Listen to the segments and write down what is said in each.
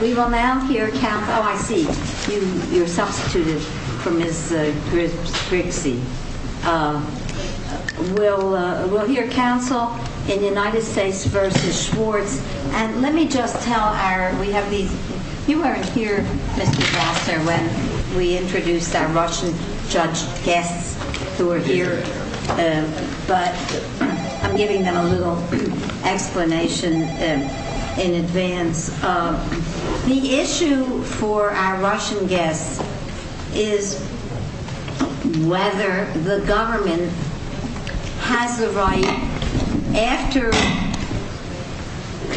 We will now hear counsel in United States v. Schwartz, and let me just tell our, we have these, you weren't here Mr. Glasser when we introduced our Russian judge guests who The issue for our Russian guests is whether the government has the right, after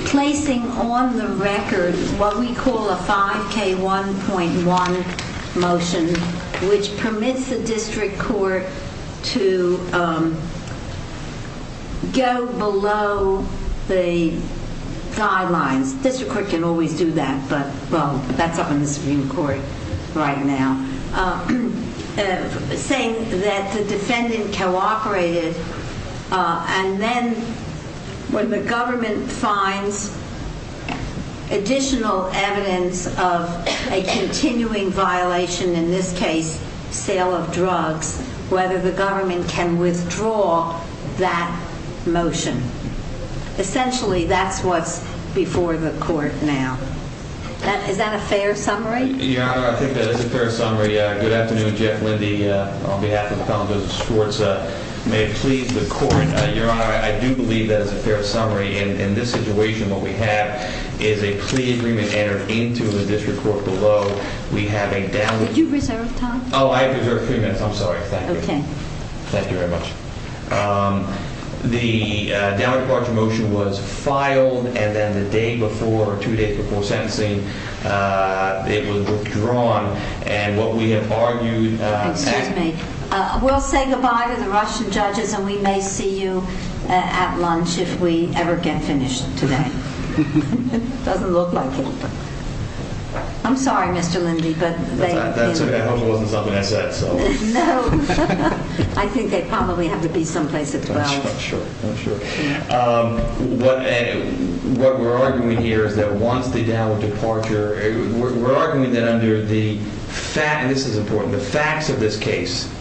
placing on the record what we call a 5k1.1 motion, which permits the district court to go below the guidelines, district court can always do that, but well that's up in the Supreme Court right now, saying that the defendant cooperated and then when the government finds additional evidence of a continuing violation, in this case sale of drugs, whether the government can withdraw that motion. Essentially that's what's before the court now. Is that a fair summary? Your honor, I think that is a fair summary. Good afternoon, Jeff Lindy on behalf of the College of Justice Schwartz. May it please the court, your honor, I do believe that is a fair summary. In this situation what we have is a plea agreement entered into the district court below. We have a down. Did you reserve time? Oh, I have reserved three minutes. I'm sorry. Thank you. Thank you very much. The down departure motion was filed and then the day before, two days before sentencing, it was withdrawn and what we have argued. Excuse me, we'll say goodbye to the Russian judges and we may see you at lunch if we ever get finished today. Doesn't look like it. I'm sorry, Mr. Lindy, but I hope it wasn't something I said. No, I think they probably have to be someplace at 12. I'm sure, I'm sure. What we're arguing here is that once the down departure, we're arguing that under the fact, and this is important, the facts of this case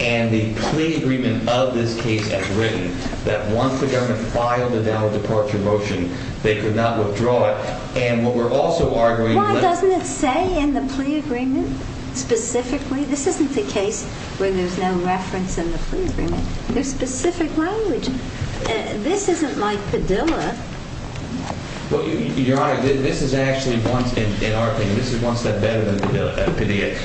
and the plea agreement of this case as written, that once the government filed the down departure motion, they could not withdraw it. And what we're also arguing- Doesn't it say in the plea agreement specifically? This isn't the case where there's no reference in the plea agreement. There's specific language. This isn't like Padilla. Well, Your Honor, this is actually, in our opinion, this is one step better than Padilla.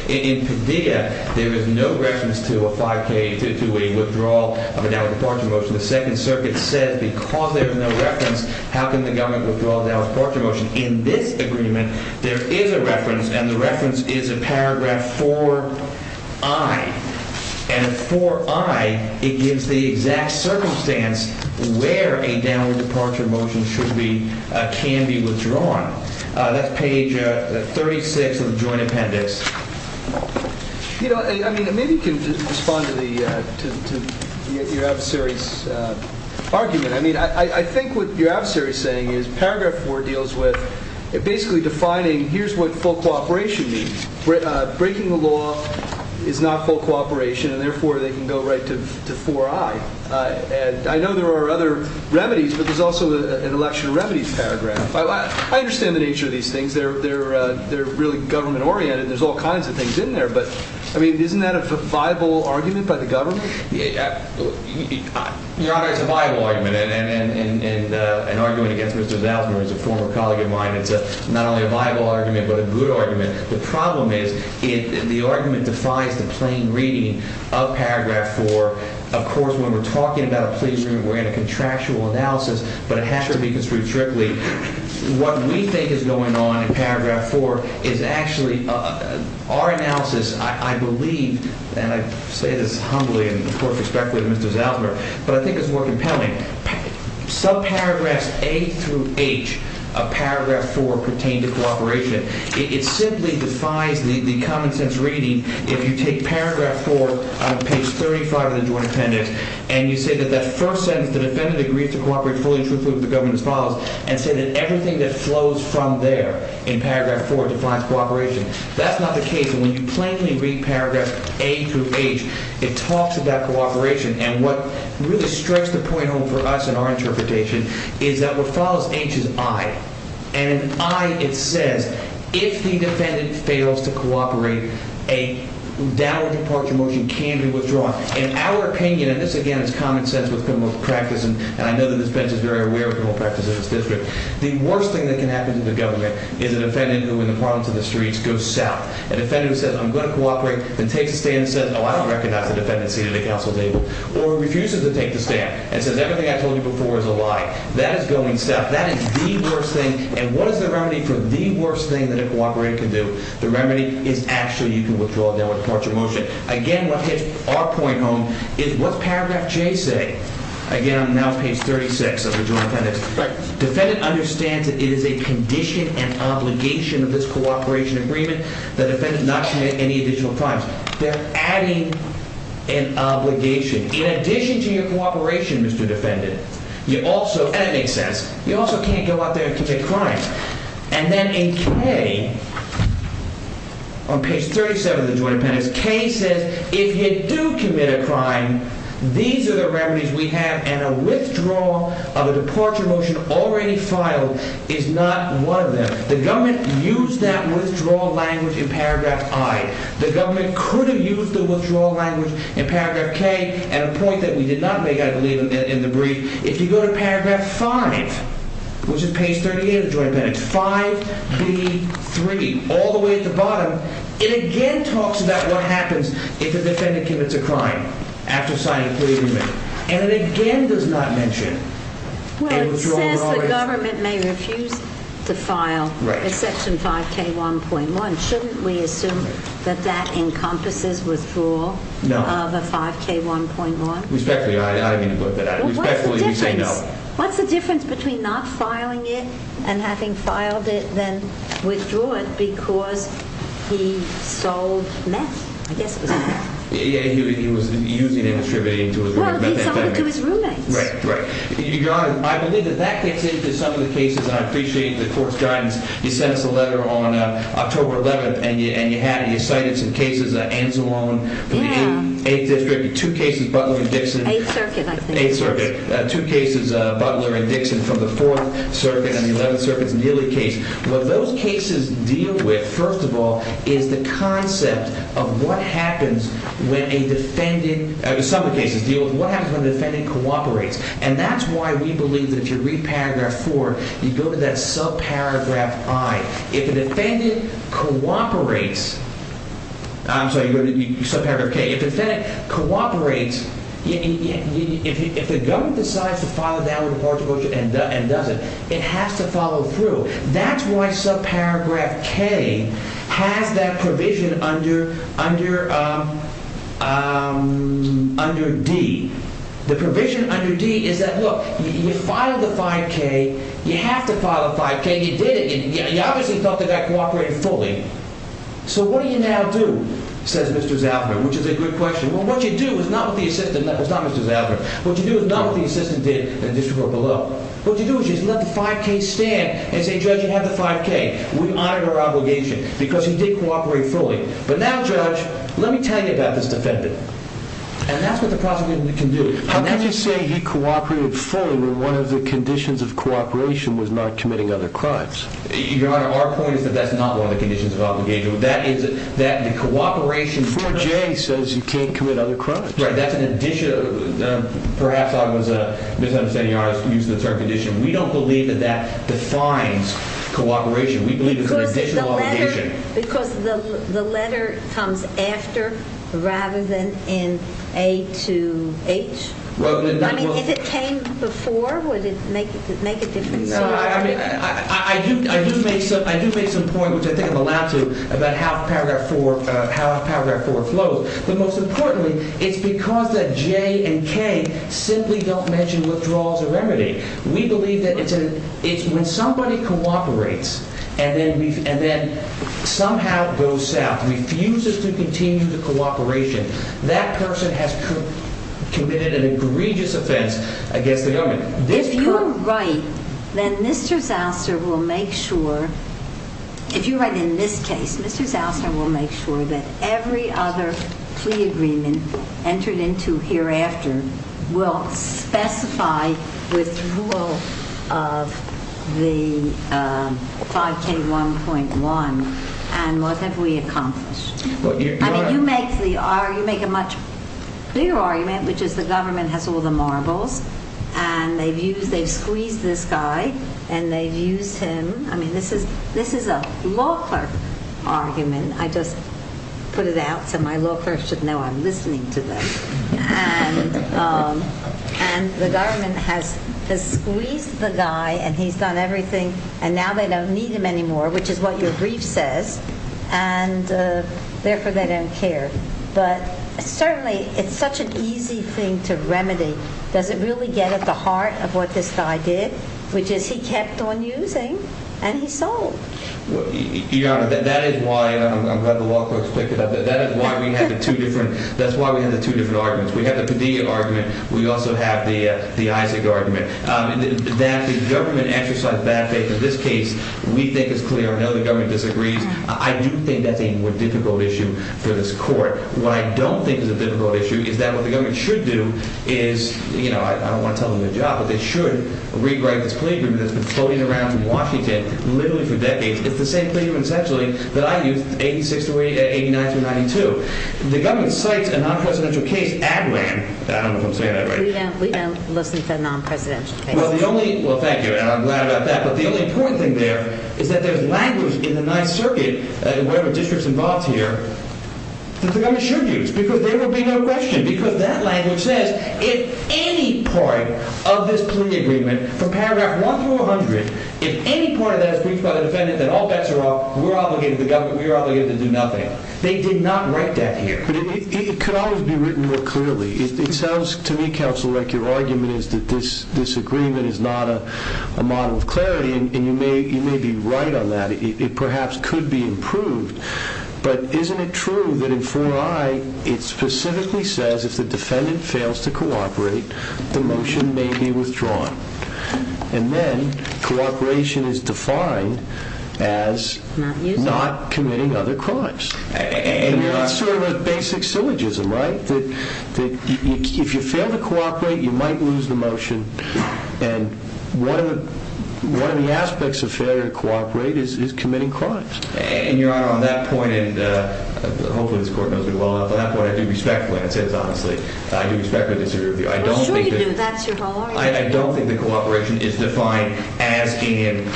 In Padilla, there is no reference to a 5k, to a withdrawal of a down departure motion. The Second Circuit said because there's no reference, how can the government withdraw a down departure motion in this agreement? There is a reference and the reference is a paragraph 4i. And 4i, it gives the exact circumstance where a down departure motion should be, can be withdrawn. That's page 36 of the joint appendix. You know, I mean, maybe you can respond to the, to your adversary's argument. I mean, I think what your adversary is saying is paragraph 4 deals with basically defining, here's what full cooperation means. Breaking the law is not full cooperation and therefore they can go right to 4i. And I know there are other remedies, but there's also an election remedies paragraph. I understand the nature of these things. They're really government oriented. There's all kinds of things in there, but I mean, isn't that a viable argument by the government? Your Honor, it's a viable argument. And, and, and, and, and, uh, and arguing against Mr. Zausman, who is a former colleague of mine, it's a, not only a viable argument, but a good argument. The problem is it, the argument defies the plain reading of paragraph 4. Of course, when we're talking about a plea agreement, we're in a contractual analysis, but it has to be construed strictly. What we think is going on in paragraph 4 is actually, uh, our analysis, I believe, and I say this humbly and of course respectfully to Mr. Zausman, but I think it's more compelling. Subparagraphs A through H of paragraph 4 pertain to cooperation. It simply defies the common sense reading. If you take paragraph 4 on page 35 of the joint appendix and you say that that first sentence, the defendant agreed to cooperate fully and truthfully with the government as follows, and say that everything that flows from there in paragraph 4 defines cooperation. That's not the case. And when you plainly read paragraph A through H, it talks about cooperation. And what really strikes the point home for us in our interpretation is that what follows H is I. And in I, it says, if the defendant fails to cooperate, a downward departure motion can be withdrawn. In our opinion, and this again is common sense with criminal practice, and I know that this bench is very aware of criminal practice in this district, the worst thing that can happen to the government is a defendant who, in the province of the streets, goes south. A defendant who says, I'm going to cooperate, then takes a stand and says, oh, I don't recognize the defendant's seat at the council table, or refuses to take the stand and says everything I told you before is a lie. That is going south. That is the worst thing. And what is the remedy for the worst thing that a cooperator can do? The remedy is actually you can withdraw a downward departure motion. Again, what hits our point home is what's paragraph J say? Again, I'm now on page 36 of the Joint Appendix. Defendant understands that it is a condition and obligation of this cooperation agreement that a defendant not commit any additional crimes. They're adding an obligation. In addition to your cooperation, Mr. Defendant, you also, and it makes sense, you also can't go out there and These are the remedies we have, and a withdrawal of a departure motion already filed is not one of them. The government used that withdrawal language in paragraph I. The government could have used the withdrawal language in paragraph K at a point that we did not make, I believe, in the brief. If you go to paragraph 5, which is page 38 of the Joint Appendix, 5B3, all the way at the bottom, it again talks about what happens if a defendant commits a crime. After signing a plea agreement, and it again does not mention a withdrawal. Well, it says the government may refuse to file exception 5K1.1. Shouldn't we assume that that encompasses withdrawal of a 5K1.1? Respectfully, I didn't mean to put that out. Respectfully, we say no. What's the difference between not filing it and having filed it, then withdraw it, because he sold meth. I guess it was meth. Yeah, he was using it, distributing it to his roommates. Right, right. I believe that that takes into some of the cases, and I appreciate the court's guidance. You sent us a letter on October 11th, and you cited some cases, Anzalone, for the 8th District, two cases, Butler and Dixon. 8th Circuit, I think. 8th Circuit. Two cases, Butler and Dixon from the 4th Circuit, and the 11th Circuit's Neely case. What those cases deal with, first of all, is the concept of what happens when a defendant, some of the cases deal with what happens when a defendant cooperates. And that's why we believe that if you read paragraph 4, you go to that subparagraph I. If a defendant cooperates, I'm sorry, you go to subparagraph K. If a defendant cooperates, if the government decides to file a downward departure motion and does it, it has to follow through. That's why subparagraph K has that provision under D. The provision under D is that, look, you filed the 5K, you have to file a 5K, you did it, and you obviously felt that that cooperated fully. So what do you now do, says Mr. Zalver, which is a good question. Well, what you do is not what the assistant, it's not Mr. Zalver, what you do is not what the assistant did in the district court below. What you do is just let the 5K stand and say, Judge, you have the 5K. We honor our obligation because he did cooperate fully. But now, Judge, let me tell you about this defendant. And that's what the prosecutor can do. How can you say he cooperated fully when one of the conditions of cooperation was not committing other crimes? Your Honor, our point is that that's not one of the conditions of obligation. That is that the cooperation... 4J says you can't commit other crimes. Right, that's an addition. Perhaps I was misunderstanding, Your Honor, using the term condition. We don't believe that that defines cooperation. We believe it's an additional obligation. Because the letter comes after rather than in A to H? I mean, if it came before, would it make a difference? No, I mean, I do make some point, which I think I'm allowed to, about how Paragraph 4 flows. But most importantly, it's because that J and K simply don't mention withdrawals or remedy. We believe that it's when somebody cooperates and then somehow goes south, refuses to continue the cooperation. That person has committed an egregious offense against the government. If you're right, then Mr. Zausner will make sure, if you're right in this case, Mr. Zausner will make sure that every other plea agreement entered into hereafter will specify withdrawal of the 5K1.1 and what have we accomplished. I mean, you make a much bigger argument, which is the government has all the marbles and they've squeezed this guy and they've used him. I mean, this is a law clerk argument. I just put it out so my law clerks should know I'm listening to them. And the government has squeezed the guy and he's done everything and now they don't need him anymore, which is what your brief says. And therefore, they don't care. But certainly, it's such an easy thing to remedy. Does it really get at the heart of what this guy did, which is he kept on using and he sold. Your Honor, that is why I'm glad the law clerks picked it up. That is why we have the two different arguments. We have the Padilla argument. We also have the Isaac argument. That the government exercised bad faith in this case, we think is clear. I know the government disagrees. I do think that's a more difficult issue for this court. What I don't think is a difficult issue is that what the government should do is, I don't want to tell them the job, but they should re-write this plea agreement that's been floating around in Washington literally for decades. It's the same claim, essentially, that I used, 86 to 89 to 92. The government cites a non-presidential case, ADRAN. I don't know if I'm saying that right. We don't listen to non-presidential cases. Well, thank you, and I'm glad about that. But the only important thing there is that there's language in the Ninth Circuit, in whatever district's involved here, that the government should use because there will be no question because that language says if any part of this plea agreement from paragraph 1 through 100, if any part of that is breached by the defendant, then all bets are off. We're obligated, the government, we're obligated to do nothing. They did not write that here. But it could always be written more clearly. It sounds to me, counsel, like your argument is that this agreement is not a model of clarity, and you may be right on that. It perhaps could be improved, but isn't it true that in 4I, it specifically says if the defendant fails to cooperate, the motion may be withdrawn? And then, cooperation is defined as not committing other crimes. And that's sort of a basic syllogism, right? That if you fail to cooperate, you might lose the motion. And one of the aspects of failure to cooperate is committing crimes. And, Your Honor, on that point, and hopefully this Court knows me well enough, on that point, I do respectfully, and I say this honestly, I do respectfully disagree with you. I don't think that... I'm sure you do. That's your whole argument. I don't think that cooperation is defined as in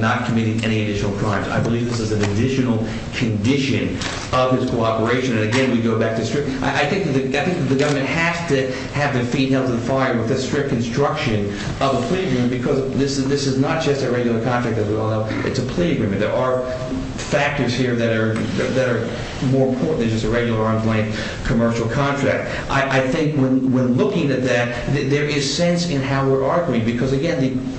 not committing any additional crimes. I believe this is an additional condition of his cooperation. And again, we go back to strict... I think that the government has to have the feet held to the fire with the strict construction of a plea agreement, because this is not just a regular contract, as we all know. It's a plea agreement. There are factors here that are more important than just a regular on-point commercial contract. I think when looking at that, there is sense in how we're arguing, because again,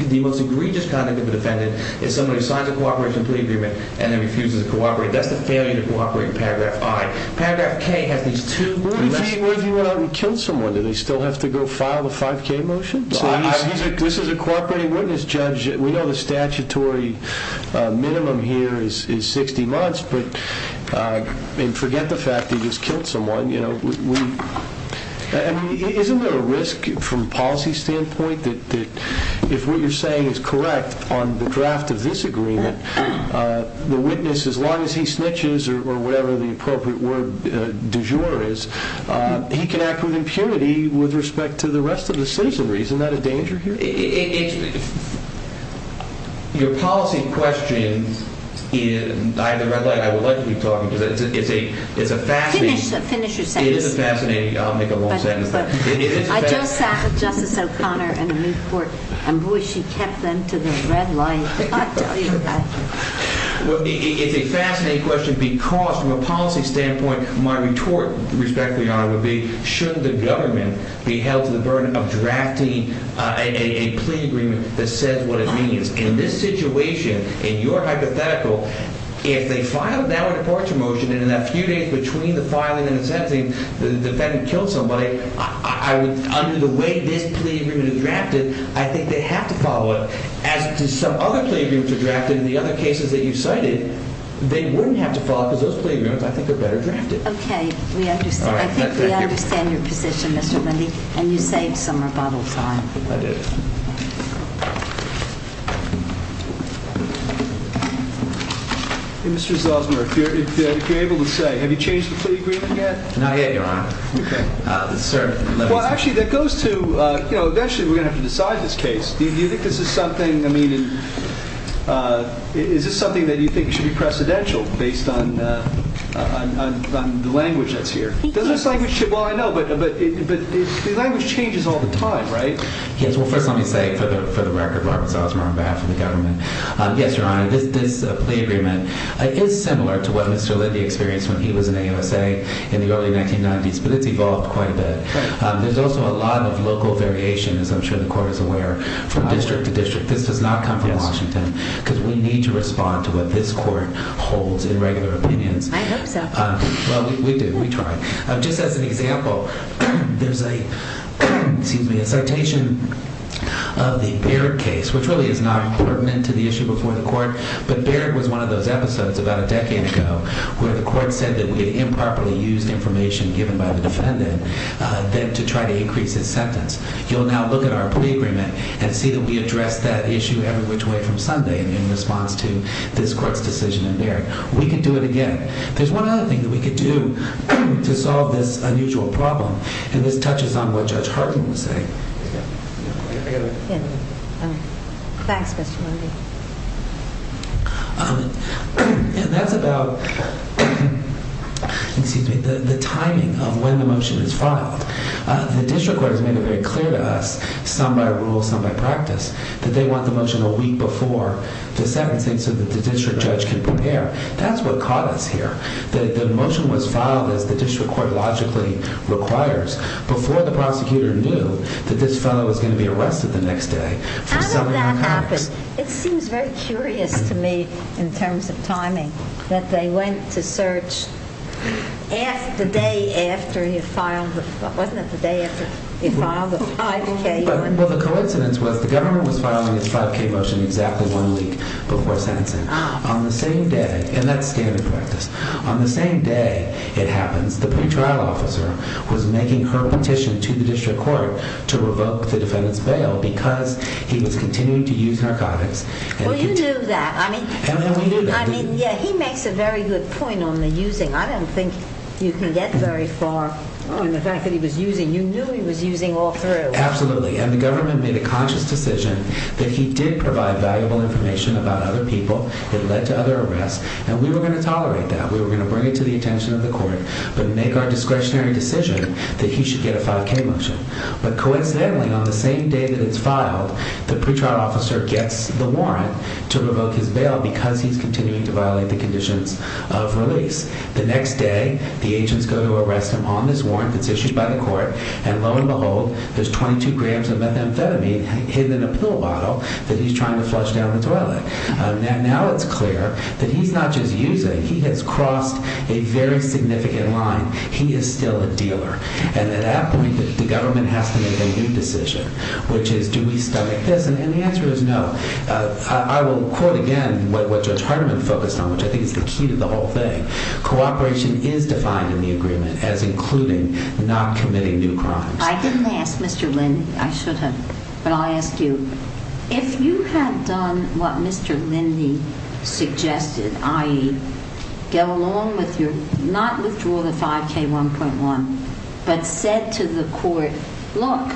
the most egregious conduct of a defendant is somebody who signs a cooperation plea agreement and then refuses to cooperate. That's the failure to cooperate in paragraph I. Paragraph K has these two... What if he went out and killed someone? Do they still have to go file the 5K motion? This is a cooperating witness, Judge. We know the statutory minimum here is 60 months, but forget the fact that he just killed someone. You know, isn't there a risk from a policy standpoint that if what you're saying is correct on the draft of this agreement, the witness, as long as he snitches or whatever the appropriate word du jour is, he can act with impunity with respect to the rest of the citizenry. Isn't that a danger here? Your policy question in either red light, I would like you to talk, because it's a fascinating... Finish your sentence. It is a fascinating... I'll make a long sentence. I just sat with Justice O'Connor in Newport, and boy, she kept them to the red light. Well, it's a fascinating question, because from a policy standpoint, my retort, respectfully, Your Honor, would be, shouldn't the government be held to the burden of drafting a plea agreement that says what it means? In this situation, in your hypothetical, if they filed now a departure motion, and in a few days between the filing and the sentencing, the defendant killed somebody, under the way this plea agreement is drafted, I think they have to follow it. As to some other plea agreements that are drafted in the other cases that you cited, they wouldn't have to follow it, because those plea agreements, I think, are better drafted. Okay. We understand. I think we understand your position, Mr. Lindy, and you saved some rebuttal time. I did. Mr. Zosmer, if you're able to say, have you changed the plea agreement yet? Not yet, Your Honor. Okay. Well, actually, that goes to, you know, eventually we're going to have to decide this case. Do you think this is something, I mean, is this something that you think should be precedential based on the language that's here? Does this language change? Well, I know, but the language changes all the time, right? Yes. Well, first let me say, for the record, Robert Zosmer, on behalf of the government, yes, Your Honor, this plea agreement is similar to what Mr. Lindy experienced when he was in AUSA in the early 1990s, but it's evolved quite a bit. There's also a lot of local variation, as I'm sure the court is aware, from district to district. This does not come from Washington, because we need to respond to what this court holds in regular opinions. I hope so. Well, we do. We try. Just as an example, there's a, excuse me, a citation of the Barrett case, which really is not pertinent to the issue before the court, but Barrett was one of those episodes about a decade ago where the court said that we had improperly used information given by the defendant then to try to increase his sentence. You'll now look at our plea agreement and see that we addressed that issue every which way from Sunday in response to this court's decision in Barrett. We could do it again. There's one other thing that we could do to solve this unusual problem, and this touches on what Judge Hartman was saying. Thanks, Mr. Lindy. That's about, excuse me, the timing of when the motion is filed. The district court has made it very clear to us, some by rule, some by practice, that they want the motion a week before the sentencing so that the district judge can prepare. That's what caught us here, that the motion was filed as the district court logically requires before the prosecutor knew that this fellow was going to be arrested the next day. How did that happen? It seems very curious to me in terms of timing, that they went to search the day after he filed the, wasn't it the day after he filed the 5K? Well, the coincidence was the government was filing his 5K motion exactly one week before the 5K, and that's standard practice. On the same day it happens, the pretrial officer was making her petition to the district court to revoke the defendant's bail because he was continuing to use narcotics. Well, you knew that. And we knew that. I mean, yeah, he makes a very good point on the using. I don't think you can get very far on the fact that he was using. You knew he was using all through. Absolutely, and the government made a conscious decision that he did provide valuable information about other people that led to other arrests. And we were going to tolerate that. We were going to bring it to the attention of the court, but make our discretionary decision that he should get a 5K motion. But coincidentally, on the same day that it's filed, the pretrial officer gets the warrant to revoke his bail because he's continuing to violate the conditions of release. The next day, the agents go to arrest him on this warrant that's issued by the court. And lo and behold, there's 22 grams of methamphetamine hidden in a pill bottle that he's trying to swallow. Now it's clear that he's not just using. He has crossed a very significant line. He is still a dealer. And at that point, the government has to make a new decision, which is do we stomach this? And the answer is no. I will quote again what Judge Hardiman focused on, which I think is the key to the whole thing. Cooperation is defined in the agreement as including not committing new crimes. I didn't ask, Mr. Lind. I should have, but I'll ask you. If you had done what Mr. Lindy suggested, i.e. go along with your, not withdraw the 5K1.1, but said to the court, look,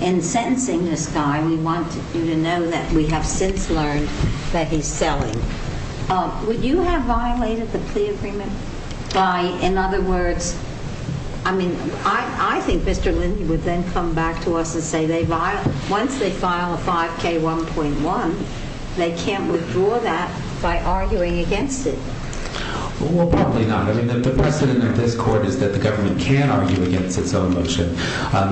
in sentencing this guy, we want you to know that we have since learned that he's selling, would you have violated the plea agreement by, in other words, I mean, I think Mr. Lindy would then come back to us and say once they file a 5K1.1, they can't withdraw that by arguing against it. Well, probably not. I mean, the precedent of this court is that the government can argue against its own motion.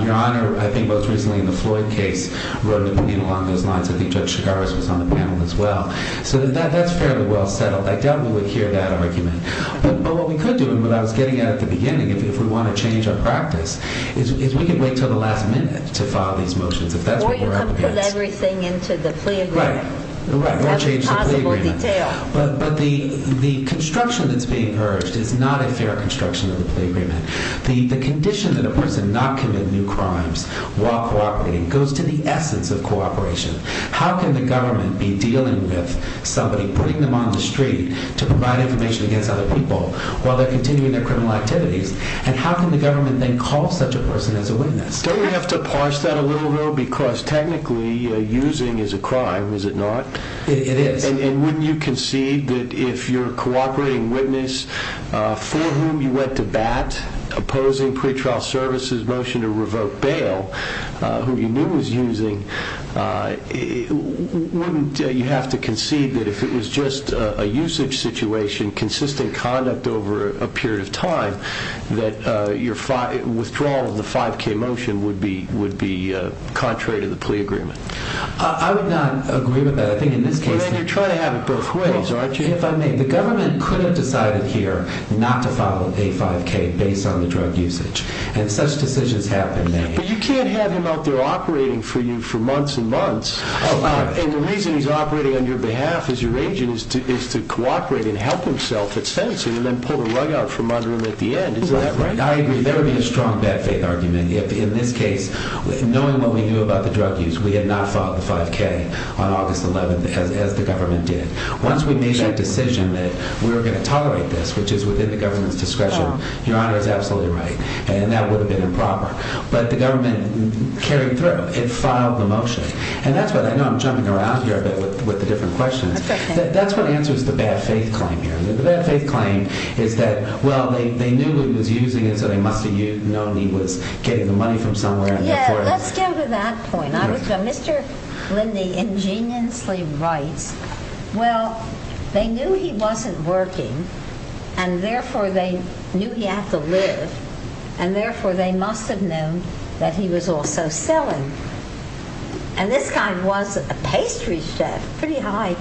Your Honor, I think most recently in the Floyd case, wrote an opinion along those lines. I think Judge Chigaris was on the panel as well. So that's fairly well settled. I doubt we would hear that argument. But what we could do, and what I was getting at at the beginning, if we want to change our practice, is we could wait until the last minute to file these motions, if that's what we're up against. Or you could put everything into the plea agreement. Right, right, or change the plea agreement. To every possible detail. But the construction that's being urged is not a fair construction of the plea agreement. The condition that a person not commit new crimes while cooperating goes to the essence of cooperation. How can the government be dealing with somebody putting them on the street to provide information against other people while they're continuing their criminal activities? And how can the government then call such a person as a witness? Don't we have to parse that a little, though? Because technically, using is a crime, is it not? It is. And wouldn't you concede that if you're a cooperating witness for whom you went to bat, opposing pretrial services' motion to revoke bail, who you knew was using, wouldn't you have to concede that if it was just a usage situation, consistent conduct over a period of time, that your withdrawal of the 5K motion would be contrary to the plea agreement? I would not agree with that. I think in this case... Well, then you're trying to have it both ways, aren't you? If I may. The government could have decided here not to file a 5K based on the drug usage. And such decisions have been made. But you can't have him out there operating for you for months and months. And the reason he's operating on your behalf as your agent is to cooperate and help himself and then pull the rug out from under him at the end. Is that right? I agree. There would be a strong bad faith argument if, in this case, knowing what we knew about the drug use, we had not filed the 5K on August 11th as the government did. Once we made that decision that we were going to tolerate this, which is within the government's discretion, your honor is absolutely right. And that would have been improper. But the government carried through. It filed the motion. And that's what I know. I'm jumping around here a bit with the different questions. That's what answers the bad faith claim here. The bad faith claim is that, well, they knew he was using it. So they must have known he was getting the money from somewhere. Yeah. Let's go to that point. I was going, Mr. Lindy ingeniously writes, well, they knew he wasn't working. And therefore, they knew he had to live. And therefore, they must have known that he was also selling. And this guy was a pastry chef, pretty high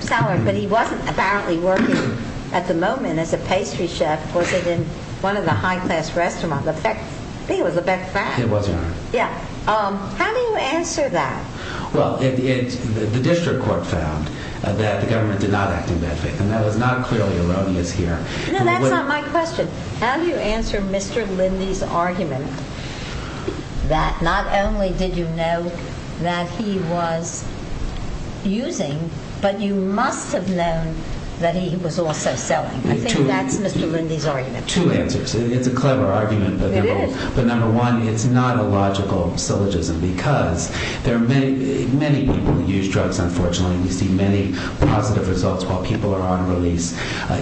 salary. But he wasn't apparently working at the moment as a pastry chef. Was it in one of the high class restaurants? In fact, I think it was the Bec Frack. It was, your honor. Yeah. How do you answer that? Well, the district court found that the government did not act in bad faith. And that was not clearly erroneous here. No, that's not my question. How do you answer Mr. Lindy's argument that not only did you know that he was using, but you must have known that he was also selling? I think that's Mr. Lindy's argument. Two answers. It's a clever argument. But number one, it's not a logical syllogism. Because there are many, many people who use drugs. Unfortunately, we see many positive results while people are on release.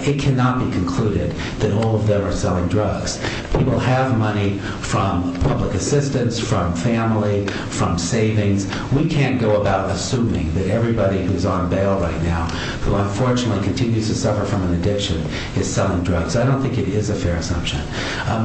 It cannot be concluded that all of them are selling drugs. People have money from public assistance, from family, from savings. We can't go about assuming that everybody who's on bail right now, who unfortunately continues to suffer from an addiction, is selling drugs. I don't think it is a fair assumption.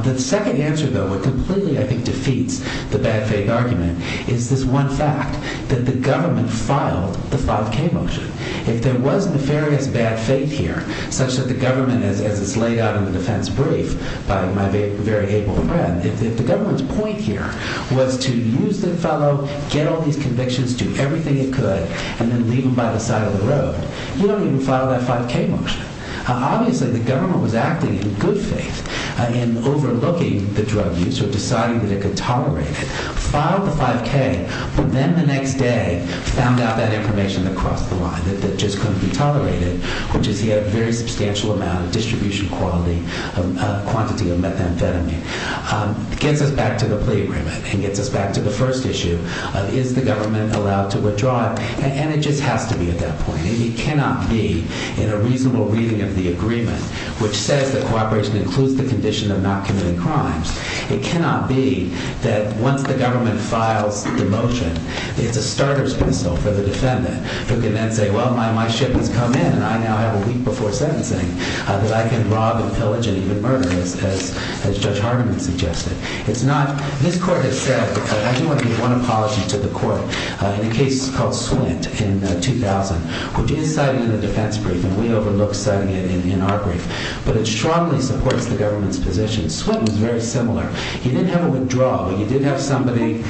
The second answer, though, what completely, I think, defeats the bad faith argument is this one fact, that the government filed the 5k motion. If there was nefarious bad faith here, such that the government, as it's laid out in the defense brief by my very able friend, if the government's point here was to use the fellow, get all these convictions, do everything it could, and then leave him by the side of the road, you don't even file that 5k motion. Obviously, the government was acting in good faith in overlooking the drug use or deciding that it could tolerate it, filed the 5k, but then the next day found out that information across the line that just couldn't be tolerated, which is he had a very substantial amount of distribution quality, quantity of methamphetamine. Gets us back to the plea agreement and gets us back to the first issue of is the government allowed to withdraw it? And it just has to be at that point. It cannot be in a reasonable reading of the agreement, which says that cooperation includes the condition of not committing crimes. It cannot be that once the government files the motion, it's a starter's pistol for the defendant, who can then say, well, my ship has come in and I now have a week before sentencing that I can rob and pillage and even murder, as Judge Harmon suggested. It's not, his court has said, but I do want to give one apology to the court in a case called Swint in 2000, which is cited in the defense brief and we overlook citing it in our brief, but it strongly supports the government's position. Swint was very similar. He didn't have a withdrawal, but he did have somebody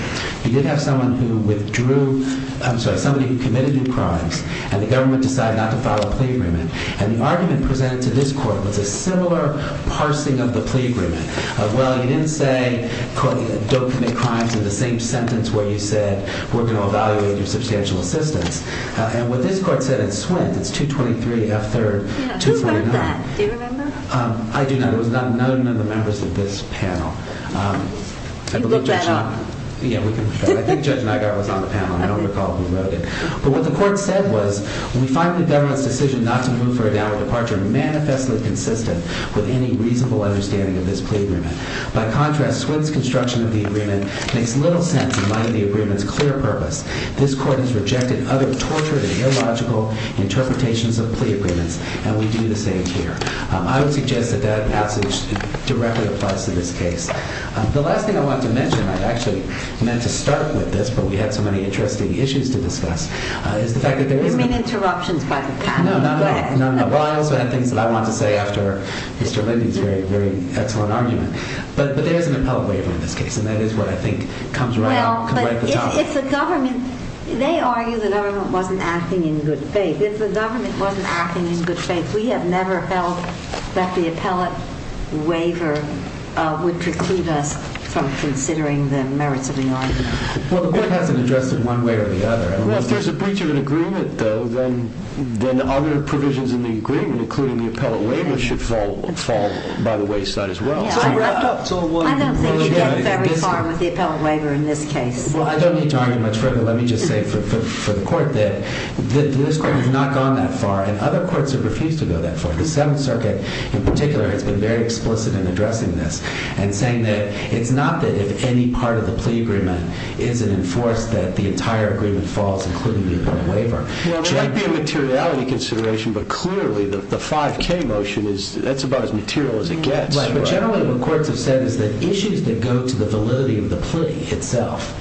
who withdrew, I'm sorry, somebody who committed new crimes and the government decided not to file a plea agreement and the argument presented to this court was a similar parsing of the plea agreement of, well, you didn't say, don't commit crimes in the same sentence where you said we're going to evaluate your substantial assistance and what this court said in Swint, it's 223F3-239. Yeah, who wrote that? Do you remember? I do not. It was none of the members of this panel. You looked that up? Yeah, I think Judge Nygart was on the panel. I don't recall who wrote it, but what the court said was, we find the government's decision not to move for a downward departure manifestly consistent with any reasonable understanding of this plea agreement. By contrast, Swint's construction of the agreement makes little sense in light of the agreement's clear purpose. This court has rejected other tortured and illogical interpretations of plea agreements and we do the same here. I would suggest that that passage directly applies to this case. The last thing I want to mention, I actually meant to start with this, but we had so many interesting issues to discuss, is the fact that there is... You mean interruptions by the panel? No, no, no. Well, I also have things that I want to say after Mr. Lindy's very, very excellent argument, but there is an appellate waiver in this case and that is what I think comes right up, comes right at the top. If the government, they argue the government wasn't acting in good faith. If the government wasn't acting in good faith, we have never held that the appellate waiver would preclude us from considering the merits of the argument. Well, the court hasn't addressed it one way or the other. Well, if there's a breach of an agreement though, then other provisions in the agreement, including the appellate waiver, should fall by the wayside as well. It's all wrapped up. It's all one. I don't think you've gone very far with the appellate waiver in this case. Well, I don't need to argue much further. Let me just say for the court that this court has not gone that far and other courts have refused to go that far. The Seventh Circuit in particular has been very explicit in addressing this and saying that it's not that if any part of the plea agreement isn't enforced, that the entire agreement falls, including the appellate waiver. Well, it might be a materiality consideration, but clearly the 5k motion is, that's about as material as it gets. But generally what courts have said is that issues that go to the validity of the plea itself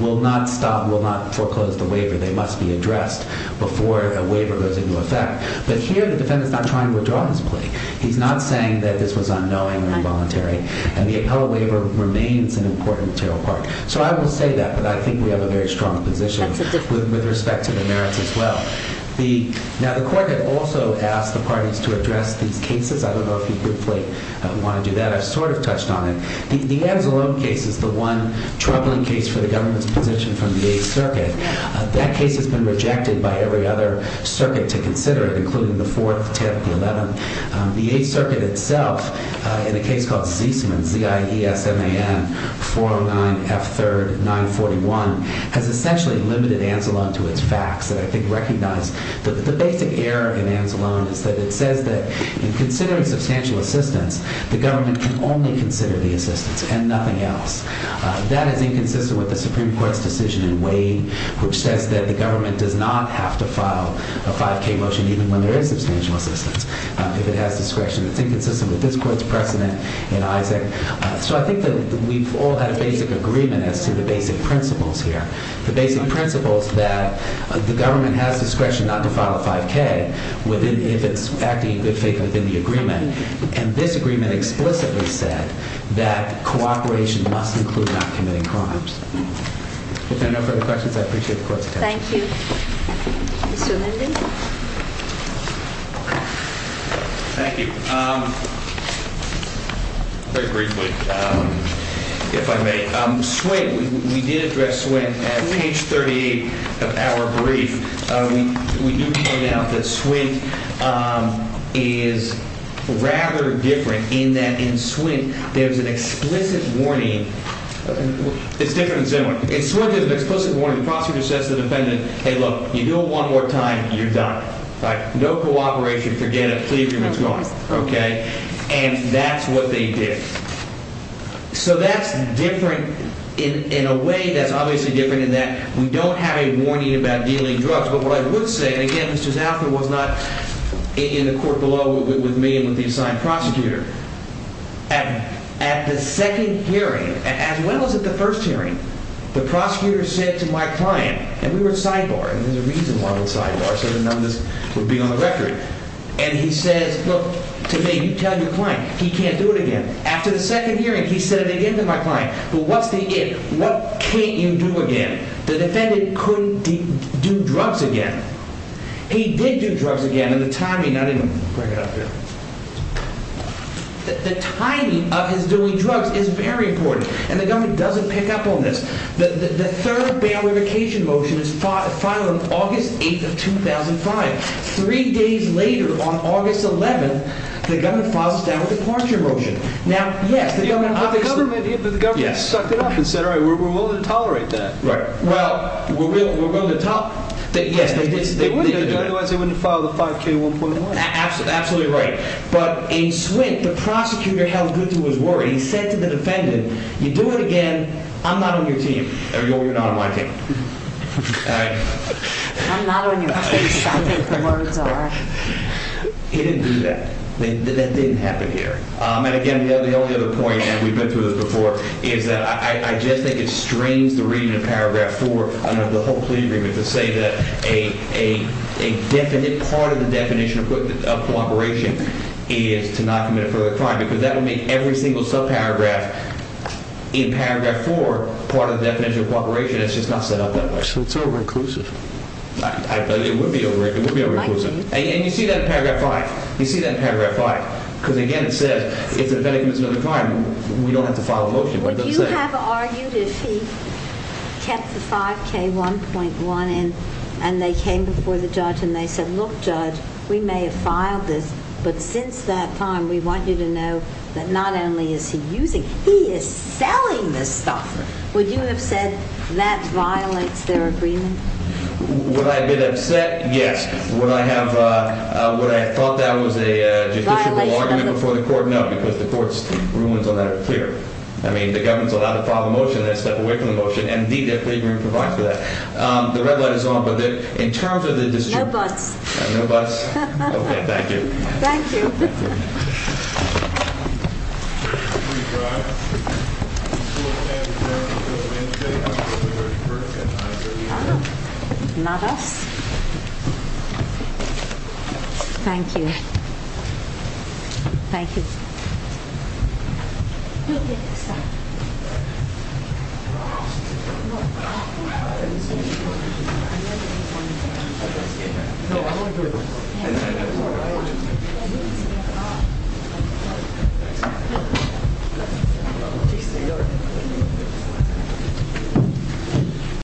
will not stop, will not foreclose the waiver. They must be addressed before a waiver goes into effect. But here the defendant's not trying to withdraw his plea. He's not saying that this was unknowing or involuntary and the appellate waiver remains an important material part. So I will say that, but I think we have a very strong position with respect to the merits as well. Now the court had also asked the parties to address these cases. I don't know if you briefly want to do that. I've sort of touched on it. The Anzalone case is the one troubling case for the government's position from the Eighth Circuit. That case has been rejected by every other circuit to consider it, including the Fourth, the 10th, the 11th. The Eighth Circuit itself, in a case called Ziesman, Z-I-E-S-M-A-N-409-F3-941, has essentially limited Anzalone to its facts that I think recognize. The basic error in Anzalone is that it says that in considering substantial assistance, the government can only consider the assistance and nothing else. That is inconsistent with the Supreme Court's decision in Wade, which says that the government does not have to file a 5K motion even when there is substantial assistance. If it has discretion, it's inconsistent with this court's precedent in Isaac. So I think that we've all had a basic agreement as to the basic principles here, the basic principles that the government has discretion not to file a 5K if it's acting in good faith within the agreement. And this agreement explicitly said that cooperation must include not committing crimes. If there are no further questions, I appreciate the court's attention. Thank you. Mr. Lindley? Thank you. Very briefly, if I may. Swint, we did address Swint at page 38 of our brief. We do point out that Swint is rather different in that in Swint, there's an explicit warning. It's different in San Juan. In Swint, there's an explicit warning. Prosecutor says to the defendant, hey, look, you do it one more time, you're done, right? No cooperation, forget it. Plea agreement's gone, okay? And that's what they did. So that's different in a way that's obviously different in that we don't have a warning about dealing drugs. But what I would say, and again, Mr. Zauffer was not in the court below with me and with the assigned prosecutor. At the second hearing, as well as at the first hearing, the prosecutor said to my client, and we were at Sidebar, and there's a reason why we're at Sidebar, so the numbers would be on the record. And he says, look, to me, you tell your client, he can't do it again. After the second hearing, he said it again to my client, but what's the if? What can't you do again? The defendant couldn't do drugs again. He did do drugs again, and the timing, I didn't bring it up here. The timing of his doing drugs is very important, and the government doesn't pick up on this. The third bail revocation motion is filed on August 8th of 2005. Three days later, on August 11th, the government filed a departure motion. But the government sucked it up and said, all right, we're willing to tolerate that. Well, we're willing to tolerate that, yes, they did. They wouldn't do it otherwise they wouldn't file the 5k1.1. Absolutely right. But in Swint, the prosecutor held good to his word. He said to the defendant, you do it again, I'm not on your team. Or you're not on my team. I'm not on your team. He didn't do that. That didn't happen here. And again, the only other point, and we've been through this before, is that I just think it strains the reading of paragraph four under the whole plea agreement to say that a definite part of the definition of cooperation is to not commit a further crime, because that will make every single subparagraph in paragraph four It's just not set up that way. So it's over-inclusive. It would be over-inclusive. And you see that in paragraph five. You see that in paragraph five. Because again, it says if the defendant commits another crime, we don't have to file a motion. Would you have argued if he kept the 5k1.1 and they came before the judge and they said, look, judge, we may have filed this, but since that time, we want you to know that not only is he using, he is selling this stuff. Would you have said that violates their agreement? Would I have been upset? Yes. Would I have, would I have thought that was a justiciable argument before the court? No, because the court's rulings on that are clear. I mean, the government's allowed to file a motion and then step away from the motion. Indeed, their plea agreement provides for that. The red light is on, but in terms of the decision. No buts. No buts. OK, thank you. Thank you. Not us. Thank you. Thank you.